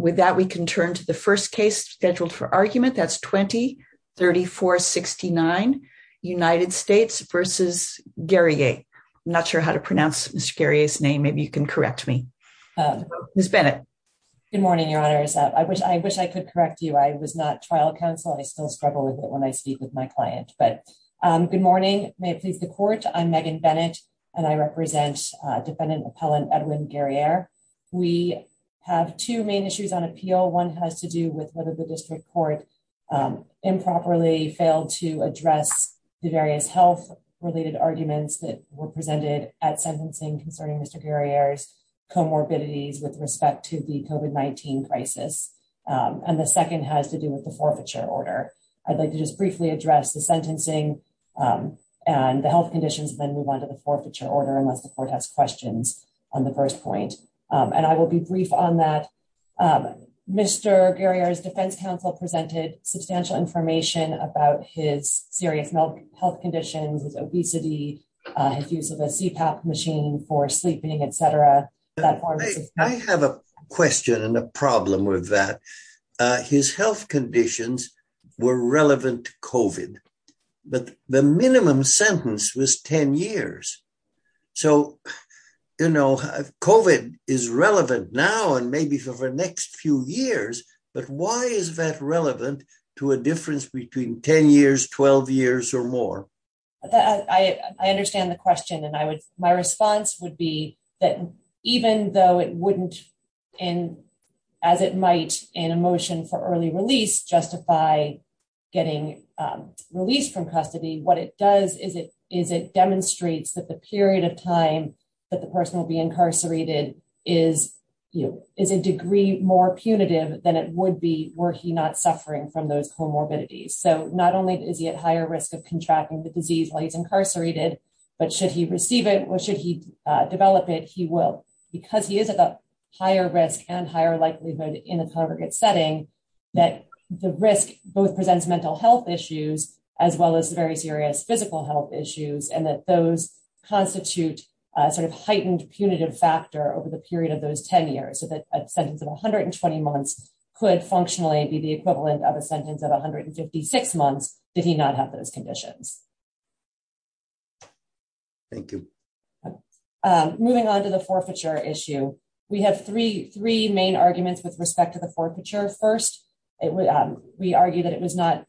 With that, we can turn to the first case scheduled for argument. That's 20-34-69, United States v. Guerrier. I'm not sure how to pronounce Mr. Guerrier's name. Maybe you can correct me. Ms. Bennett. Good morning, Your Honors. I wish I could correct you. I was not trial counsel. I still struggle with it when I speak with my client. Good morning. May it please the Court. I'm Megan Bennett, and I represent Defendant Appellant Edwin Guerrier. We have two main issues on appeal. One has to do with whether the District Court improperly failed to address the various health-related arguments that were presented at sentencing concerning Mr. Guerrier's comorbidities with respect to the COVID-19 crisis. And the second has to do with the forfeiture order. I'd like to just briefly address the sentencing and the health conditions and then move on to the forfeiture order, unless the Court has questions on the first point. And I will be brief on that. Mr. Guerrier's defense counsel presented substantial information about his serious health conditions, his obesity, his use of a CPAP machine for sleeping, etc. I have a question and a problem with that. His health conditions were relevant to COVID, but the minimum sentence was 10 years. So, you know, COVID is relevant now and maybe for the next few years, but why is that relevant to a difference between 10 years, 12 years, or more? I understand the question and my response would be that even though it wouldn't, as it might in a motion for early release, justify getting released from custody, what it does is it demonstrates that the period of time that the person will be incarcerated is a degree more punitive than it would be were he not suffering from those comorbidities. So not only is he at higher risk of contracting the disease while he's incarcerated, but should he receive it or should he develop it, he will. Because he is at a higher risk and higher likelihood in a congregate setting, that the risk both presents mental health issues, as well as very serious physical health issues, and that those constitute a sort of heightened punitive factor over the period of those 10 years. So that a sentence of 120 months could functionally be the equivalent of a sentence of 156 months if he did not have those conditions. Thank you. Moving on to the forfeiture issue, we have three main arguments with respect to the forfeiture. First, we argue that it was not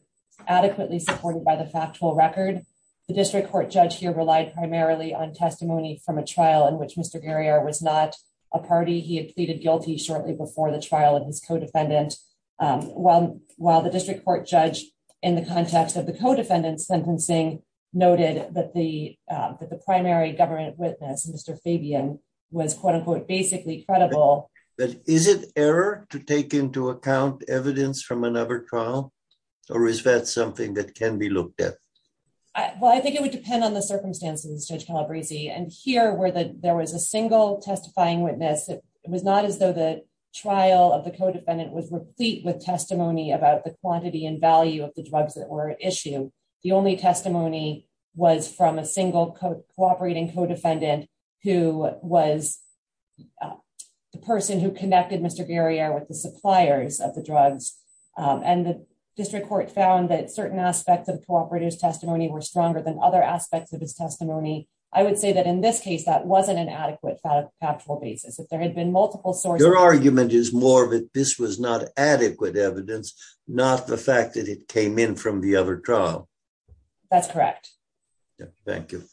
adequately supported by the factual record. The district court judge here relied primarily on testimony from a trial in which Mr. Garrier was not a party. He had pleaded guilty shortly before the trial of his co-defendant. While the district court judge, in the context of the co-defendant's sentencing, noted that the primary government witness, Mr. Fabian, was quote unquote basically credible. But is it error to take into account evidence from another trial? Or is that something that can be looked at? Well, I think it would depend on the circumstances, Judge Calabresi. And here, where there was a single testifying witness, it was not as though the trial of the co-defendant was replete with testimony about the quantity and value of the drugs that were issued. The only testimony was from a single cooperating co-defendant who was the person who connected Mr. Garrier with the suppliers of the drugs. And the district court found that certain aspects of the cooperator's testimony were stronger than other aspects of his testimony. I would say that in this case, that wasn't an adequate factual basis. Your argument is more that this was not adequate evidence, not the fact that it came in from the other trial. That's correct. Thank you.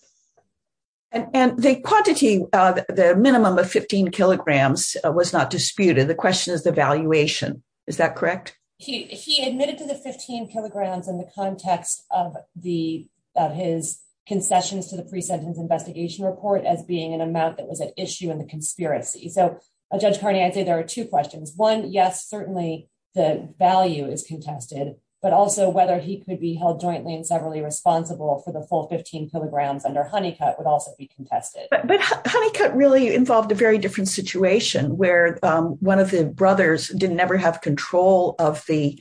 And the quantity, the minimum of 15 kilograms was not disputed. The question is the valuation. Is that correct? He admitted to the 15 kilograms in the context of his concessions to the pre-sentence investigation report as being an amount that was at issue in the conspiracy. So, Judge Carney, I'd say there are two questions. One, yes, certainly the value is contested, but also whether he could be held jointly and severally responsible for the full 15 kilograms under Honeycutt would also be contested. But Honeycutt really involved a very different situation where one of the brothers didn't ever have control of the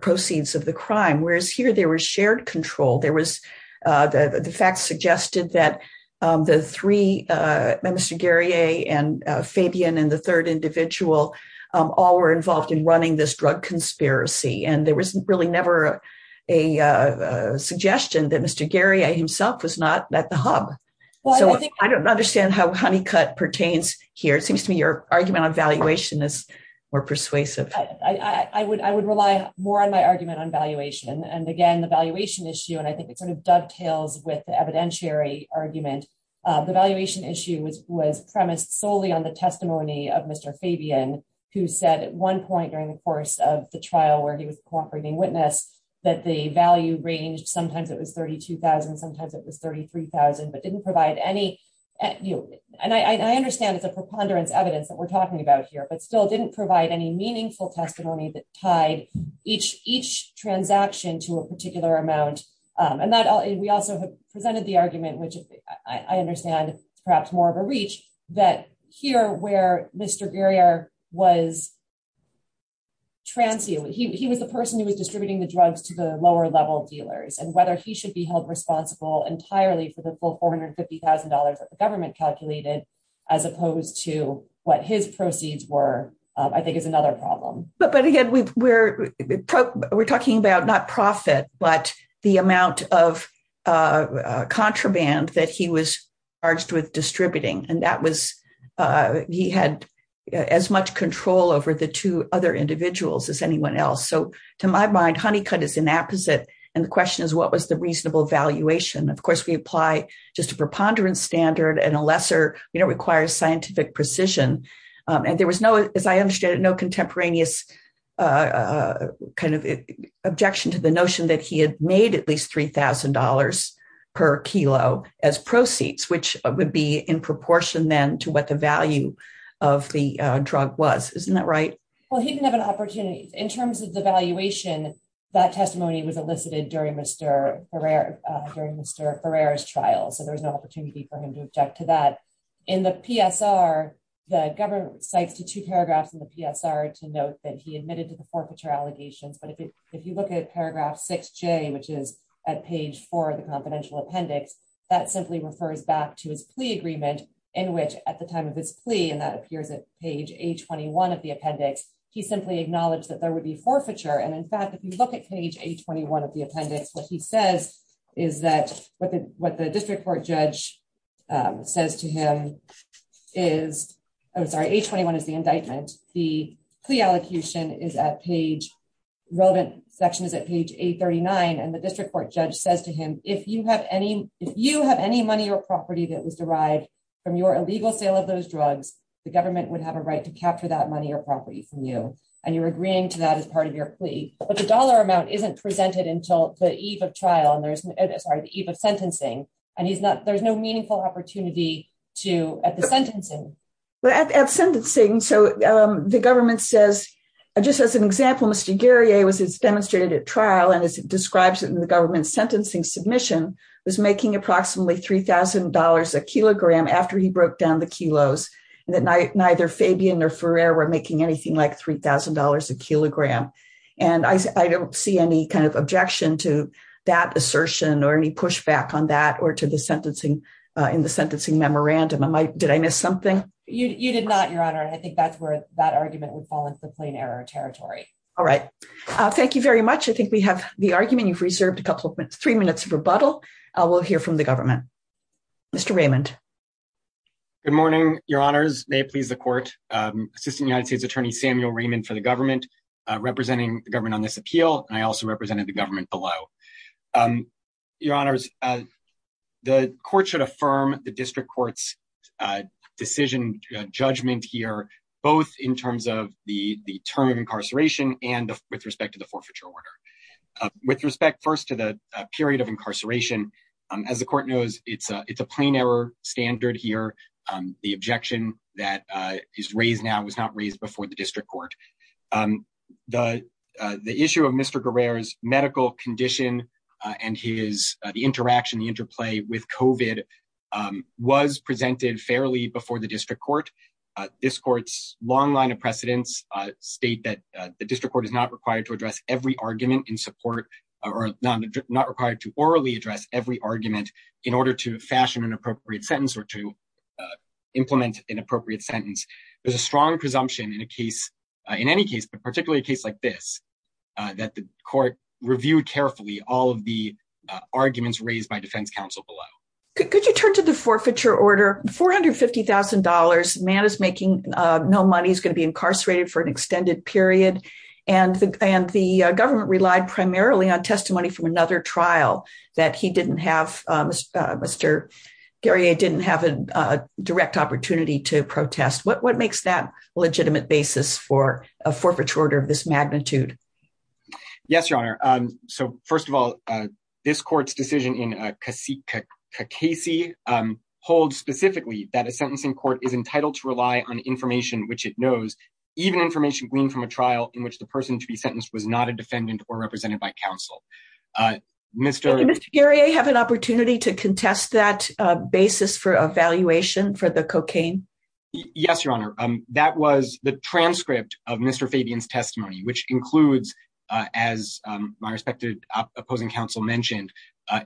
proceeds of the crime, whereas here there was shared control. The facts suggested that Mr. Garrier and Fabian and the third individual all were involved in running this drug conspiracy. And there was really never a suggestion that Mr. Garrier himself was not at the hub. I don't understand how Honeycutt pertains here. It seems to me your argument on valuation is more persuasive. I would rely more on my argument on valuation. And again, the valuation issue, and I think it sort of dovetails with the evidentiary argument. The valuation issue was premised solely on the testimony of Mr. Fabian, who said at one point during the course of the trial where he was cooperating witness that the value range, sometimes it was 32,000, sometimes it was 33,000. But didn't provide any, and I understand it's a preponderance evidence that we're talking about here, but still didn't provide any meaningful testimony that tied each transaction to a particular amount. And we also have presented the argument, which I understand is perhaps more of a reach, that here where Mr. Garrier was transient, he was the person who was distributing the drugs to the lower level dealers. And whether he should be held responsible entirely for the full $450,000 that the government calculated, as opposed to what his proceeds were, I think is another problem. But again, we're talking about not profit, but the amount of contraband that he was charged with distributing. And that was, he had as much control over the two other individuals as anyone else. So to my mind, Honeycutt is an apposite. And the question is, what was the reasonable valuation? Of course, we apply just a preponderance standard and a lesser, you know, requires scientific precision. And there was no, as I understand it, no contemporaneous kind of objection to the notion that he had made at least $3,000 per kilo as proceeds, which would be in proportion then to what the value of the drug was. Isn't that right? Well, he didn't have an opportunity. In terms of the valuation, that testimony was elicited during Mr. Ferrer's trial. So there was no opportunity for him to object to that. In the PSR, the government cites the two paragraphs in the PSR to note that he admitted to the forfeiture allegations. But if you look at paragraph 6J, which is at page 4 of the confidential appendix, that simply refers back to his plea agreement in which at the time of this plea, and that appears at page 821 of the appendix, he simply acknowledged that there would be forfeiture. And in fact, if you look at page 821 of the appendix, what he says is that what the district court judge says to him is, I'm sorry, 821 is the indictment. The plea allocation is at page, relevant section is at page 839, and the district court judge says to him, if you have any money or property that was derived from your illegal sale of those drugs, the government would have a right to capture that money or property from you. And you're agreeing to that as part of your plea, but the dollar amount isn't presented until the eve of trial and there's, sorry, the eve of sentencing, and he's not, there's no meaningful opportunity to at the sentencing. At sentencing, so the government says, just as an example, Mr. Garrier was demonstrated at trial, and as it describes it in the government sentencing submission, was making approximately $3,000 a kilogram after he broke down the kilos, and that neither Fabian nor Ferrer were making anything like $3,000 a kilogram. And I don't see any kind of objection to that assertion or any pushback on that or to the sentencing, in the sentencing memorandum. Did I miss something? You did not, Your Honor, and I think that's where that argument would fall into the plain error territory. All right. Thank you very much. I think we have the argument. You've reserved a couple, three minutes of rebuttal. We'll hear from the government. Mr. Raymond. Good morning, Your Honors. May it please the court. Assistant United States Attorney Samuel Raymond for the government, representing the government on this appeal, and I also represented the government below. Your Honors, the court should affirm the district court's decision judgment here, both in terms of the term of incarceration and with respect to the forfeiture order. With respect first to the period of incarceration, as the court knows, it's a it's a plain error standard here. The objection that is raised now was not raised before the district court. The issue of Mr. Guerrero's medical condition and his interaction, the interplay with COVID was presented fairly before the district court. This court's long line of precedence state that the district court is not required to address every argument in support or not required to orally address every argument in order to fashion an appropriate sentence or to implement an appropriate sentence. There's a strong presumption in a case, in any case, but particularly a case like this, that the court reviewed carefully all of the arguments raised by defense counsel below. Could you turn to the forfeiture order $450,000 man is making no money is going to be incarcerated for an extended period. And, and the government relied primarily on testimony from another trial that he didn't have. Mr. Gary I didn't have a direct opportunity to protest what what makes that legitimate basis for a forfeiture order of this magnitude. Yes, Your Honor. So, first of all, this court's decision in case hold specifically that a sentencing court is entitled to rely on information which it knows, even information gleaned from a trial in which the person to be sentenced was not a defendant or represented by counsel. Mr. Gary I have an opportunity to contest that basis for evaluation for the cocaine. Yes, Your Honor. That was the transcript of Mr. Fabian's testimony which includes, as my respected opposing counsel mentioned,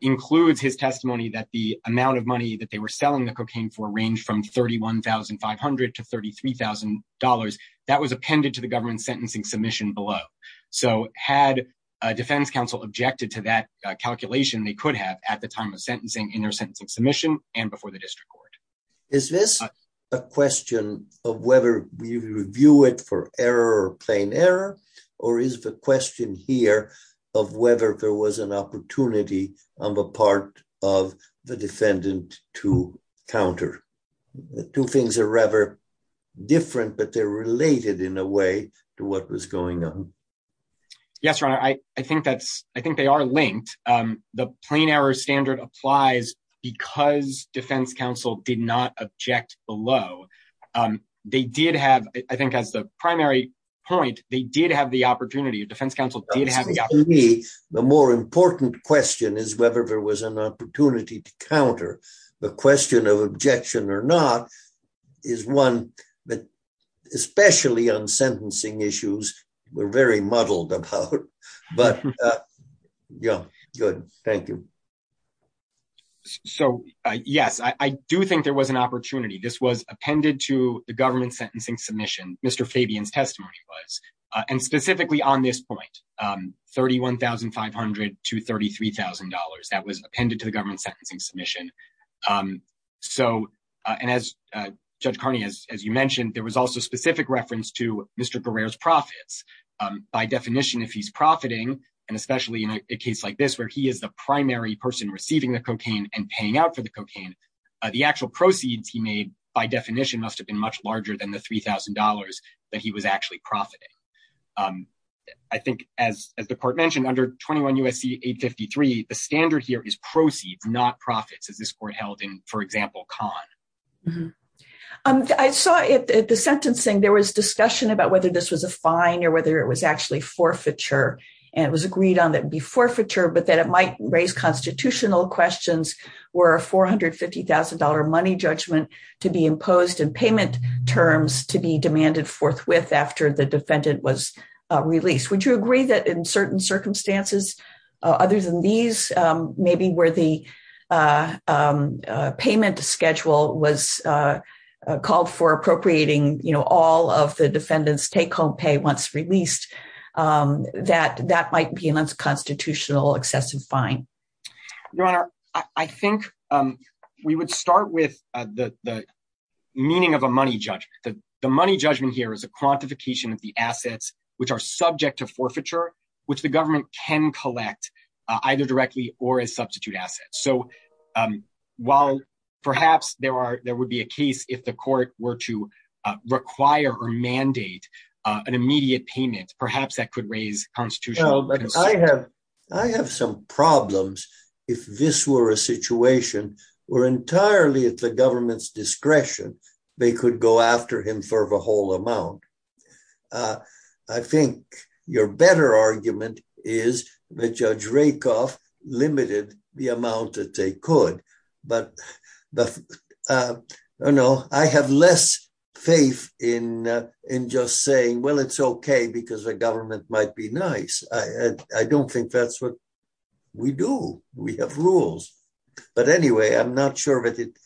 includes his testimony that the amount of money that they were selling the cocaine for range from $31,500 to $33,000. That was appended to the government sentencing submission below. So, had a defense counsel objected to that calculation they could have at the time of sentencing in their sentencing submission, and before the district court. Is this a question of whether we review it for error or plain error, or is the question here of whether there was an opportunity on the part of the defendant to counter. Two things are rather different but they're related in a way to what was going on. Yes, Your Honor, I think that's, I think they are linked. The plain error standard applies, because defense counsel did not object below. They did have, I think as the primary point, they did have the opportunity of defense counsel. The more important question is whether there was an opportunity to counter the question of objection or not, is one that, especially on sentencing issues were very muddled about. But, yeah, good. Thank you. So, yes, I do think there was an opportunity this was appended to the government sentencing submission, Mr Fabian's testimony was, and specifically on this point, $31,500 to $33,000 that was appended to the government sentencing submission. So, and as Judge Carney, as you mentioned, there was also specific reference to Mr Guerrero's profits. By definition, if he's profiting, and especially in a case like this where he is the primary person receiving the cocaine and paying out for the cocaine. The actual proceeds he made by definition must have been much larger than the $3,000 that he was actually profiting. I think, as the court mentioned under 21 USC 853 the standard here is proceeds not profits as this court held in, for example, con. I saw it at the sentencing there was discussion about whether this was a fine or whether it was actually forfeiture. And it was agreed on that be forfeiture but that it might raise constitutional questions were $450,000 money judgment to be imposed and payment terms to be demanded forthwith after the defendant was released, would you agree that in certain circumstances. Other than these, maybe where the payment schedule was called for appropriating, you know, all of the defendants take home pay once released that that might be an unconstitutional excessive fine. Your Honor, I think we would start with the meaning of a money judgment that the money judgment here is a quantification of the assets, which are subject to forfeiture, which the government can collect either directly or as substitute assets. So, while perhaps there are, there would be a case if the court were to require or mandate an immediate payment, perhaps that could raise constitutional. I have, I have some problems. If this were a situation, we're entirely at the government's discretion, they could go after him for the whole amount. I think your better argument is that Judge Rakoff limited the amount that they could, but, but, you know, I have less faith in in just saying well it's okay because the government might be nice. I don't think that's what we do. We have rules. But anyway, I'm not sure if it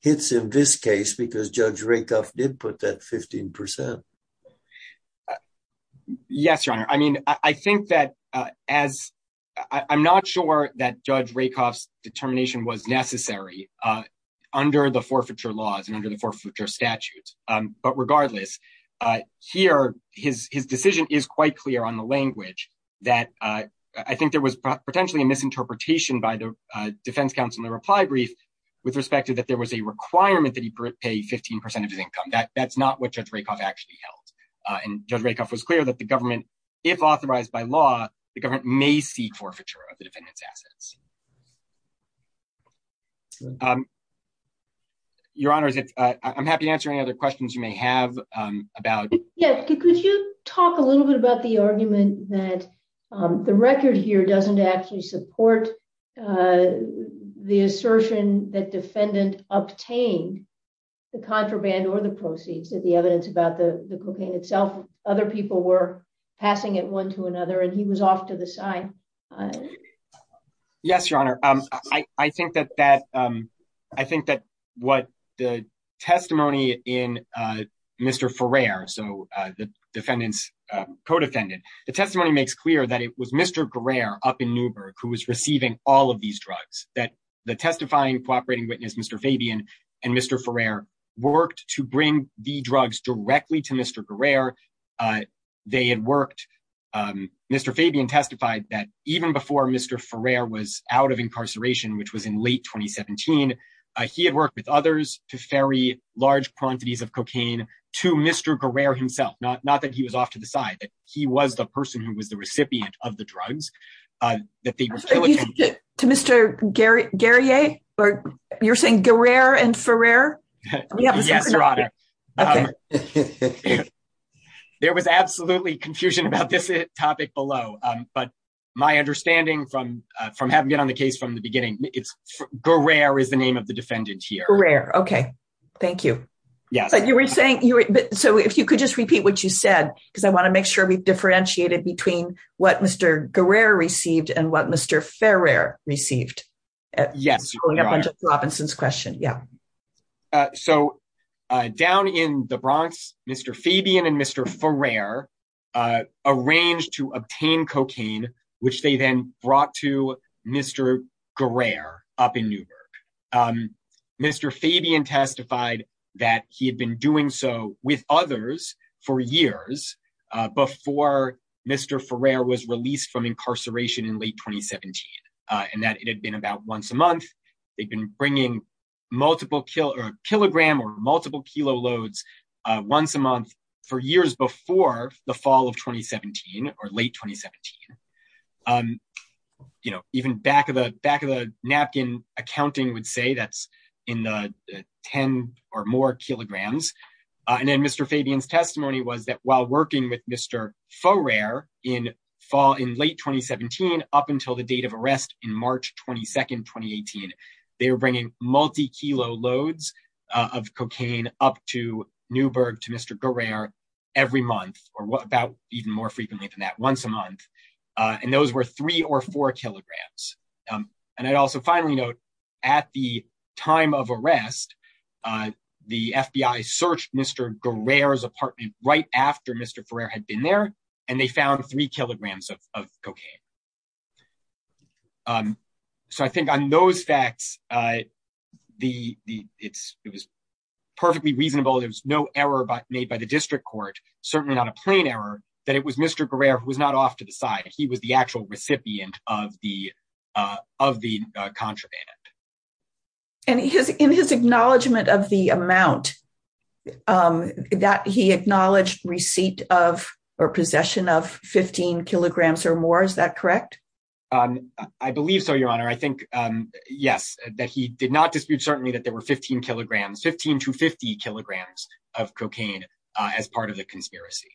hits in this case because Judge Rakoff did put that 15%. Yes, Your Honor, I mean, I think that, as I'm not sure that Judge Rakoff's determination was necessary under the forfeiture laws and under the forfeiture statutes, but regardless. Here, his decision is quite clear on the language that I think there was potentially a misinterpretation by the defense counsel in the reply brief, with respect to that there was a requirement that he pay 15% of his income that that's not what Judge Rakoff actually held. And Judge Rakoff was clear that the government, if authorized by law, the government may seek forfeiture of the defendant's assets. Your Honor, I'm happy to answer any other questions you may have about. Yeah, could you talk a little bit about the argument that the record here doesn't actually support the assertion that defendant obtain the contraband or the proceeds that the evidence about the cocaine itself, other people were passing it one to another and he was off to the side. Yes, Your Honor, I think that that. I think that what the testimony in Mr for rare so the defendants codependent, the testimony makes clear that it was Mr career up in Newburgh, who was receiving all of these drugs that the testifying cooperating witness Mr Fabian, and Mr for rare worked to bring the drugs directly to Mr career. They had worked. Mr Fabian testified that even before Mr for rare was out of incarceration which was in late 2017. He had worked with others to ferry large quantities of cocaine to Mr career himself not not that he was off to the side that he was the person who was the recipient of the drugs to Mr. Gary Gary a, or you're saying go rare and for rare. Yes, Your Honor. There was absolutely confusion about this topic below, but my understanding from from having been on the case from the beginning, it's go rare is the name of the defendant here rare Okay, thank you. Yes, but you were saying you. So if you could just repeat what you said, because I want to make sure we've differentiated between what Mr career received and what Mr fair rare received. Yes, Robinson's question. Yeah. So, down in the Bronx, Mr Fabian and Mr for rare arranged to obtain cocaine, which they then brought to Mr career up in Newburgh. Mr Fabian testified that he had been doing so with others for years before Mr for rare was released from incarceration in late 2017, and that it had been about once a month. They've been bringing multiple kill or kilogram or multiple kilo loads. Once a month for years before the fall of 2017 or late 2017. You know, even back of the back of the napkin accounting would say that's in the 10 or more kilograms. And then Mr Fabian's testimony was that while working with Mr for rare in fall in late 2017, up until the date of arrest in March 22 2018. They were bringing multi kilo loads of cocaine, up to Newburgh to Mr career every month, or what about even more frequently than that once a month. And those were three or four kilograms. And I'd also finally note, at the time of arrest. The FBI search, Mr. of the of the contraband. And he has in his acknowledgement of the amount that he acknowledged receipt of or possession of 15 kilograms or more. Is that correct. I believe so, Your Honor, I think, yes, that he did not dispute certainly that there were 15 kilograms 15 to 50 kilograms of cocaine, as part of the conspiracy.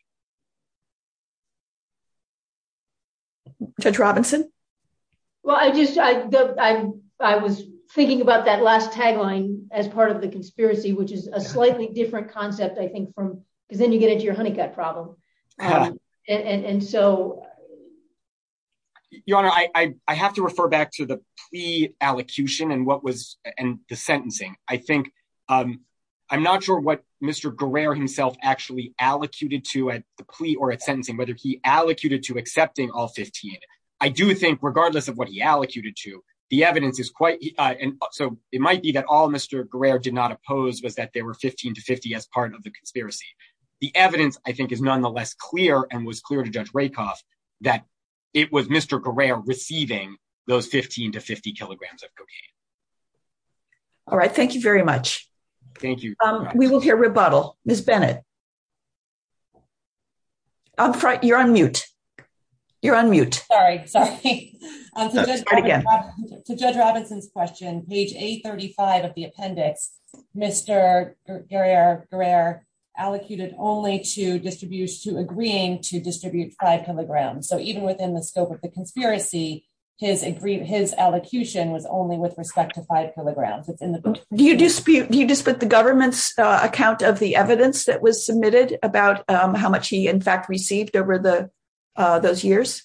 Judge Robinson. Well, I just, I was thinking about that last tagline as part of the conspiracy, which is a slightly different concept I think from, because then you get into your honeycutt problem. And so, Your Honor, I have to refer back to the pre allocution and what was in the sentencing, I think. I'm not sure what Mr. himself actually allocated to at the plea or at sentencing whether he allocated to accepting all 15. I do think regardless of what he allocated to the evidence is quite, and so it might be that all Mr. did not oppose was that they were 15 to 50 as part of the conspiracy. The evidence, I think is nonetheless clear and was clear to judge rake off that it was Mr. receiving those 15 to 50 kilograms of cocaine. All right, thank you very much. Thank you. We will hear rebuttal, Miss Bennett. I'm frightened you're on mute. You're on mute. Sorry, sorry. To judge Robinson's question, page 835 of the appendix, Mr. Gary are rare allocated only to distribute to agreeing to distribute five kilograms so even within the scope of the conspiracy, his agree his allocation was only with respect to five kilograms, it's in the, you dispute you just put the government's account of the evidence that was submitted about how much he in fact received over the those years.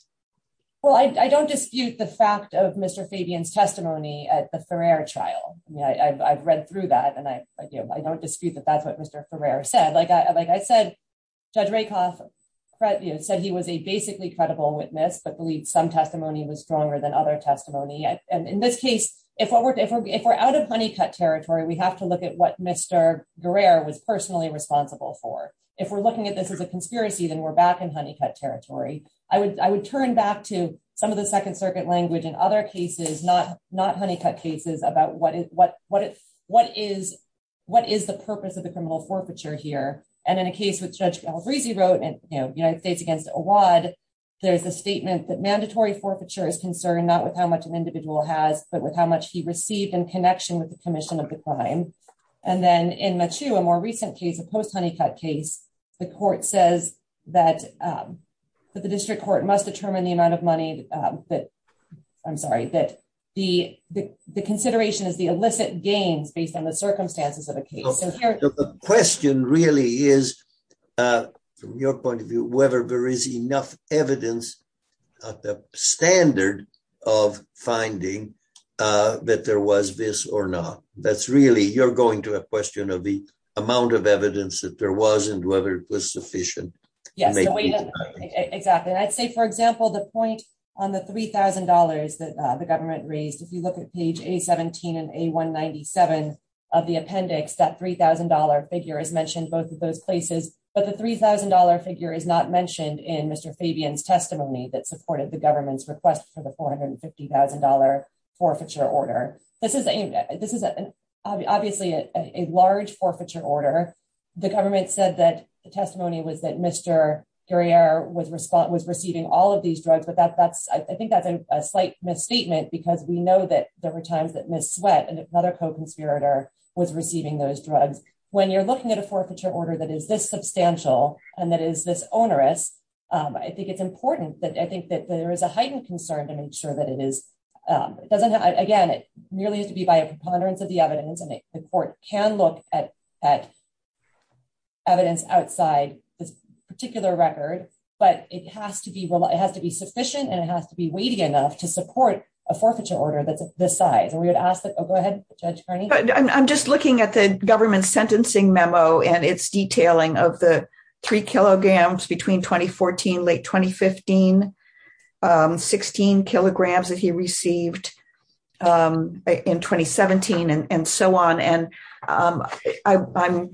Well, I don't dispute the fact of Mr Fabian's testimony at the fair trial. Yeah, I've read through that and I, I do, I don't dispute that that's what Mr for rare said like I like I said, Judge rake off. Right, you said he was a basically credible witness but believe some testimony was stronger than other testimony and in this case, if we're, if we're out of honey cut territory we have to look at what Mr. was personally responsible for. If we're looking at this as a conspiracy then we're back in honey cut territory, I would, I would turn back to some of the Second Circuit language and other cases not not honey cut cases about what is what, what, what is, what is the purpose of the criminal forfeiture here, and in a case with judge greasy wrote and, you know, United States against a wide. There's a statement that mandatory forfeiture is concerned not with how much an individual has, but with how much he received in connection with the commission of the crime. And then in much to a more recent case of post honey cut case, the court says that the district court must determine the amount of money that I'm sorry that the, the, the consideration is the illicit gains based on the circumstances of the case question really is your point of view, whether there is enough evidence of the standard of finding that there was this or not, that's really you're going to a question of the amount of evidence that there was and whether it was sufficient. Yes, exactly. I'd say for example the point on the $3,000 that the government raised if you look at page a 17 and a 197 of the appendix that $3,000 figure is mentioned both of those places, but the $3,000 figure is not mentioned in Mr. Fabian's testimony that supported the government's request for the $450,000 forfeiture order. This is a, this is obviously a large forfeiture order, the government said that the testimony was that Mr. was response was receiving all of these drugs but that that's I think that's a slight misstatement because we know that there were times that miss sweat and another co conspirator was receiving those drugs. When you're looking at a forfeiture order that is this substantial, and that is this onerous. I think it's important that I think that there is a heightened concern to make sure that it is doesn't have again it nearly has to be by a preponderance of the evidence and the court can look at that evidence outside this particular record, but it has to be, it has to be sufficient and it has to be waiting enough to support a forfeiture order that's the size and we would ask that go ahead. I'm just looking at the government sentencing memo and it's detailing of the three kilograms between 2014 late 2015 16 kilograms that he received in 2017 and so on and I'm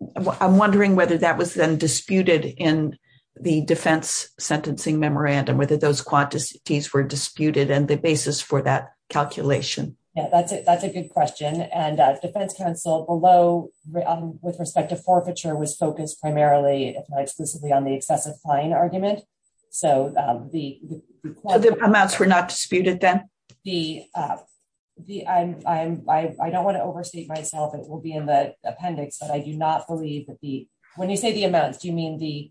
wondering whether that was then disputed in the defense sentencing memorandum whether those quantities were disputed and the basis for that calculation. Yeah, that's it. That's a good question and defense counsel below, with respect to forfeiture was focused primarily on the excessive fine argument. So, the amounts were not disputed them. The, the, I'm, I don't want to overstate myself it will be in the appendix but I do not believe that the, when you say the amounts do you mean the,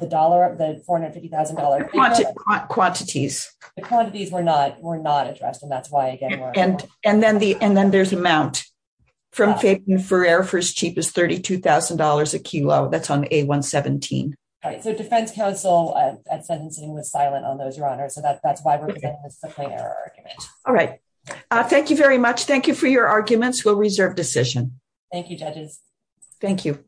the dollar, the $450,000 quantities, quantities were not were not addressed and that's why again, and, and then the, and then there's amount from faith and for air for as cheap as $32,000 a kilo that's on a 117 right so defense counsel sentencing was silent on those your honor so that that's why we're playing our argument. All right. Thank you very much. Thank you for your arguments will reserve decision. Thank you judges. Thank you.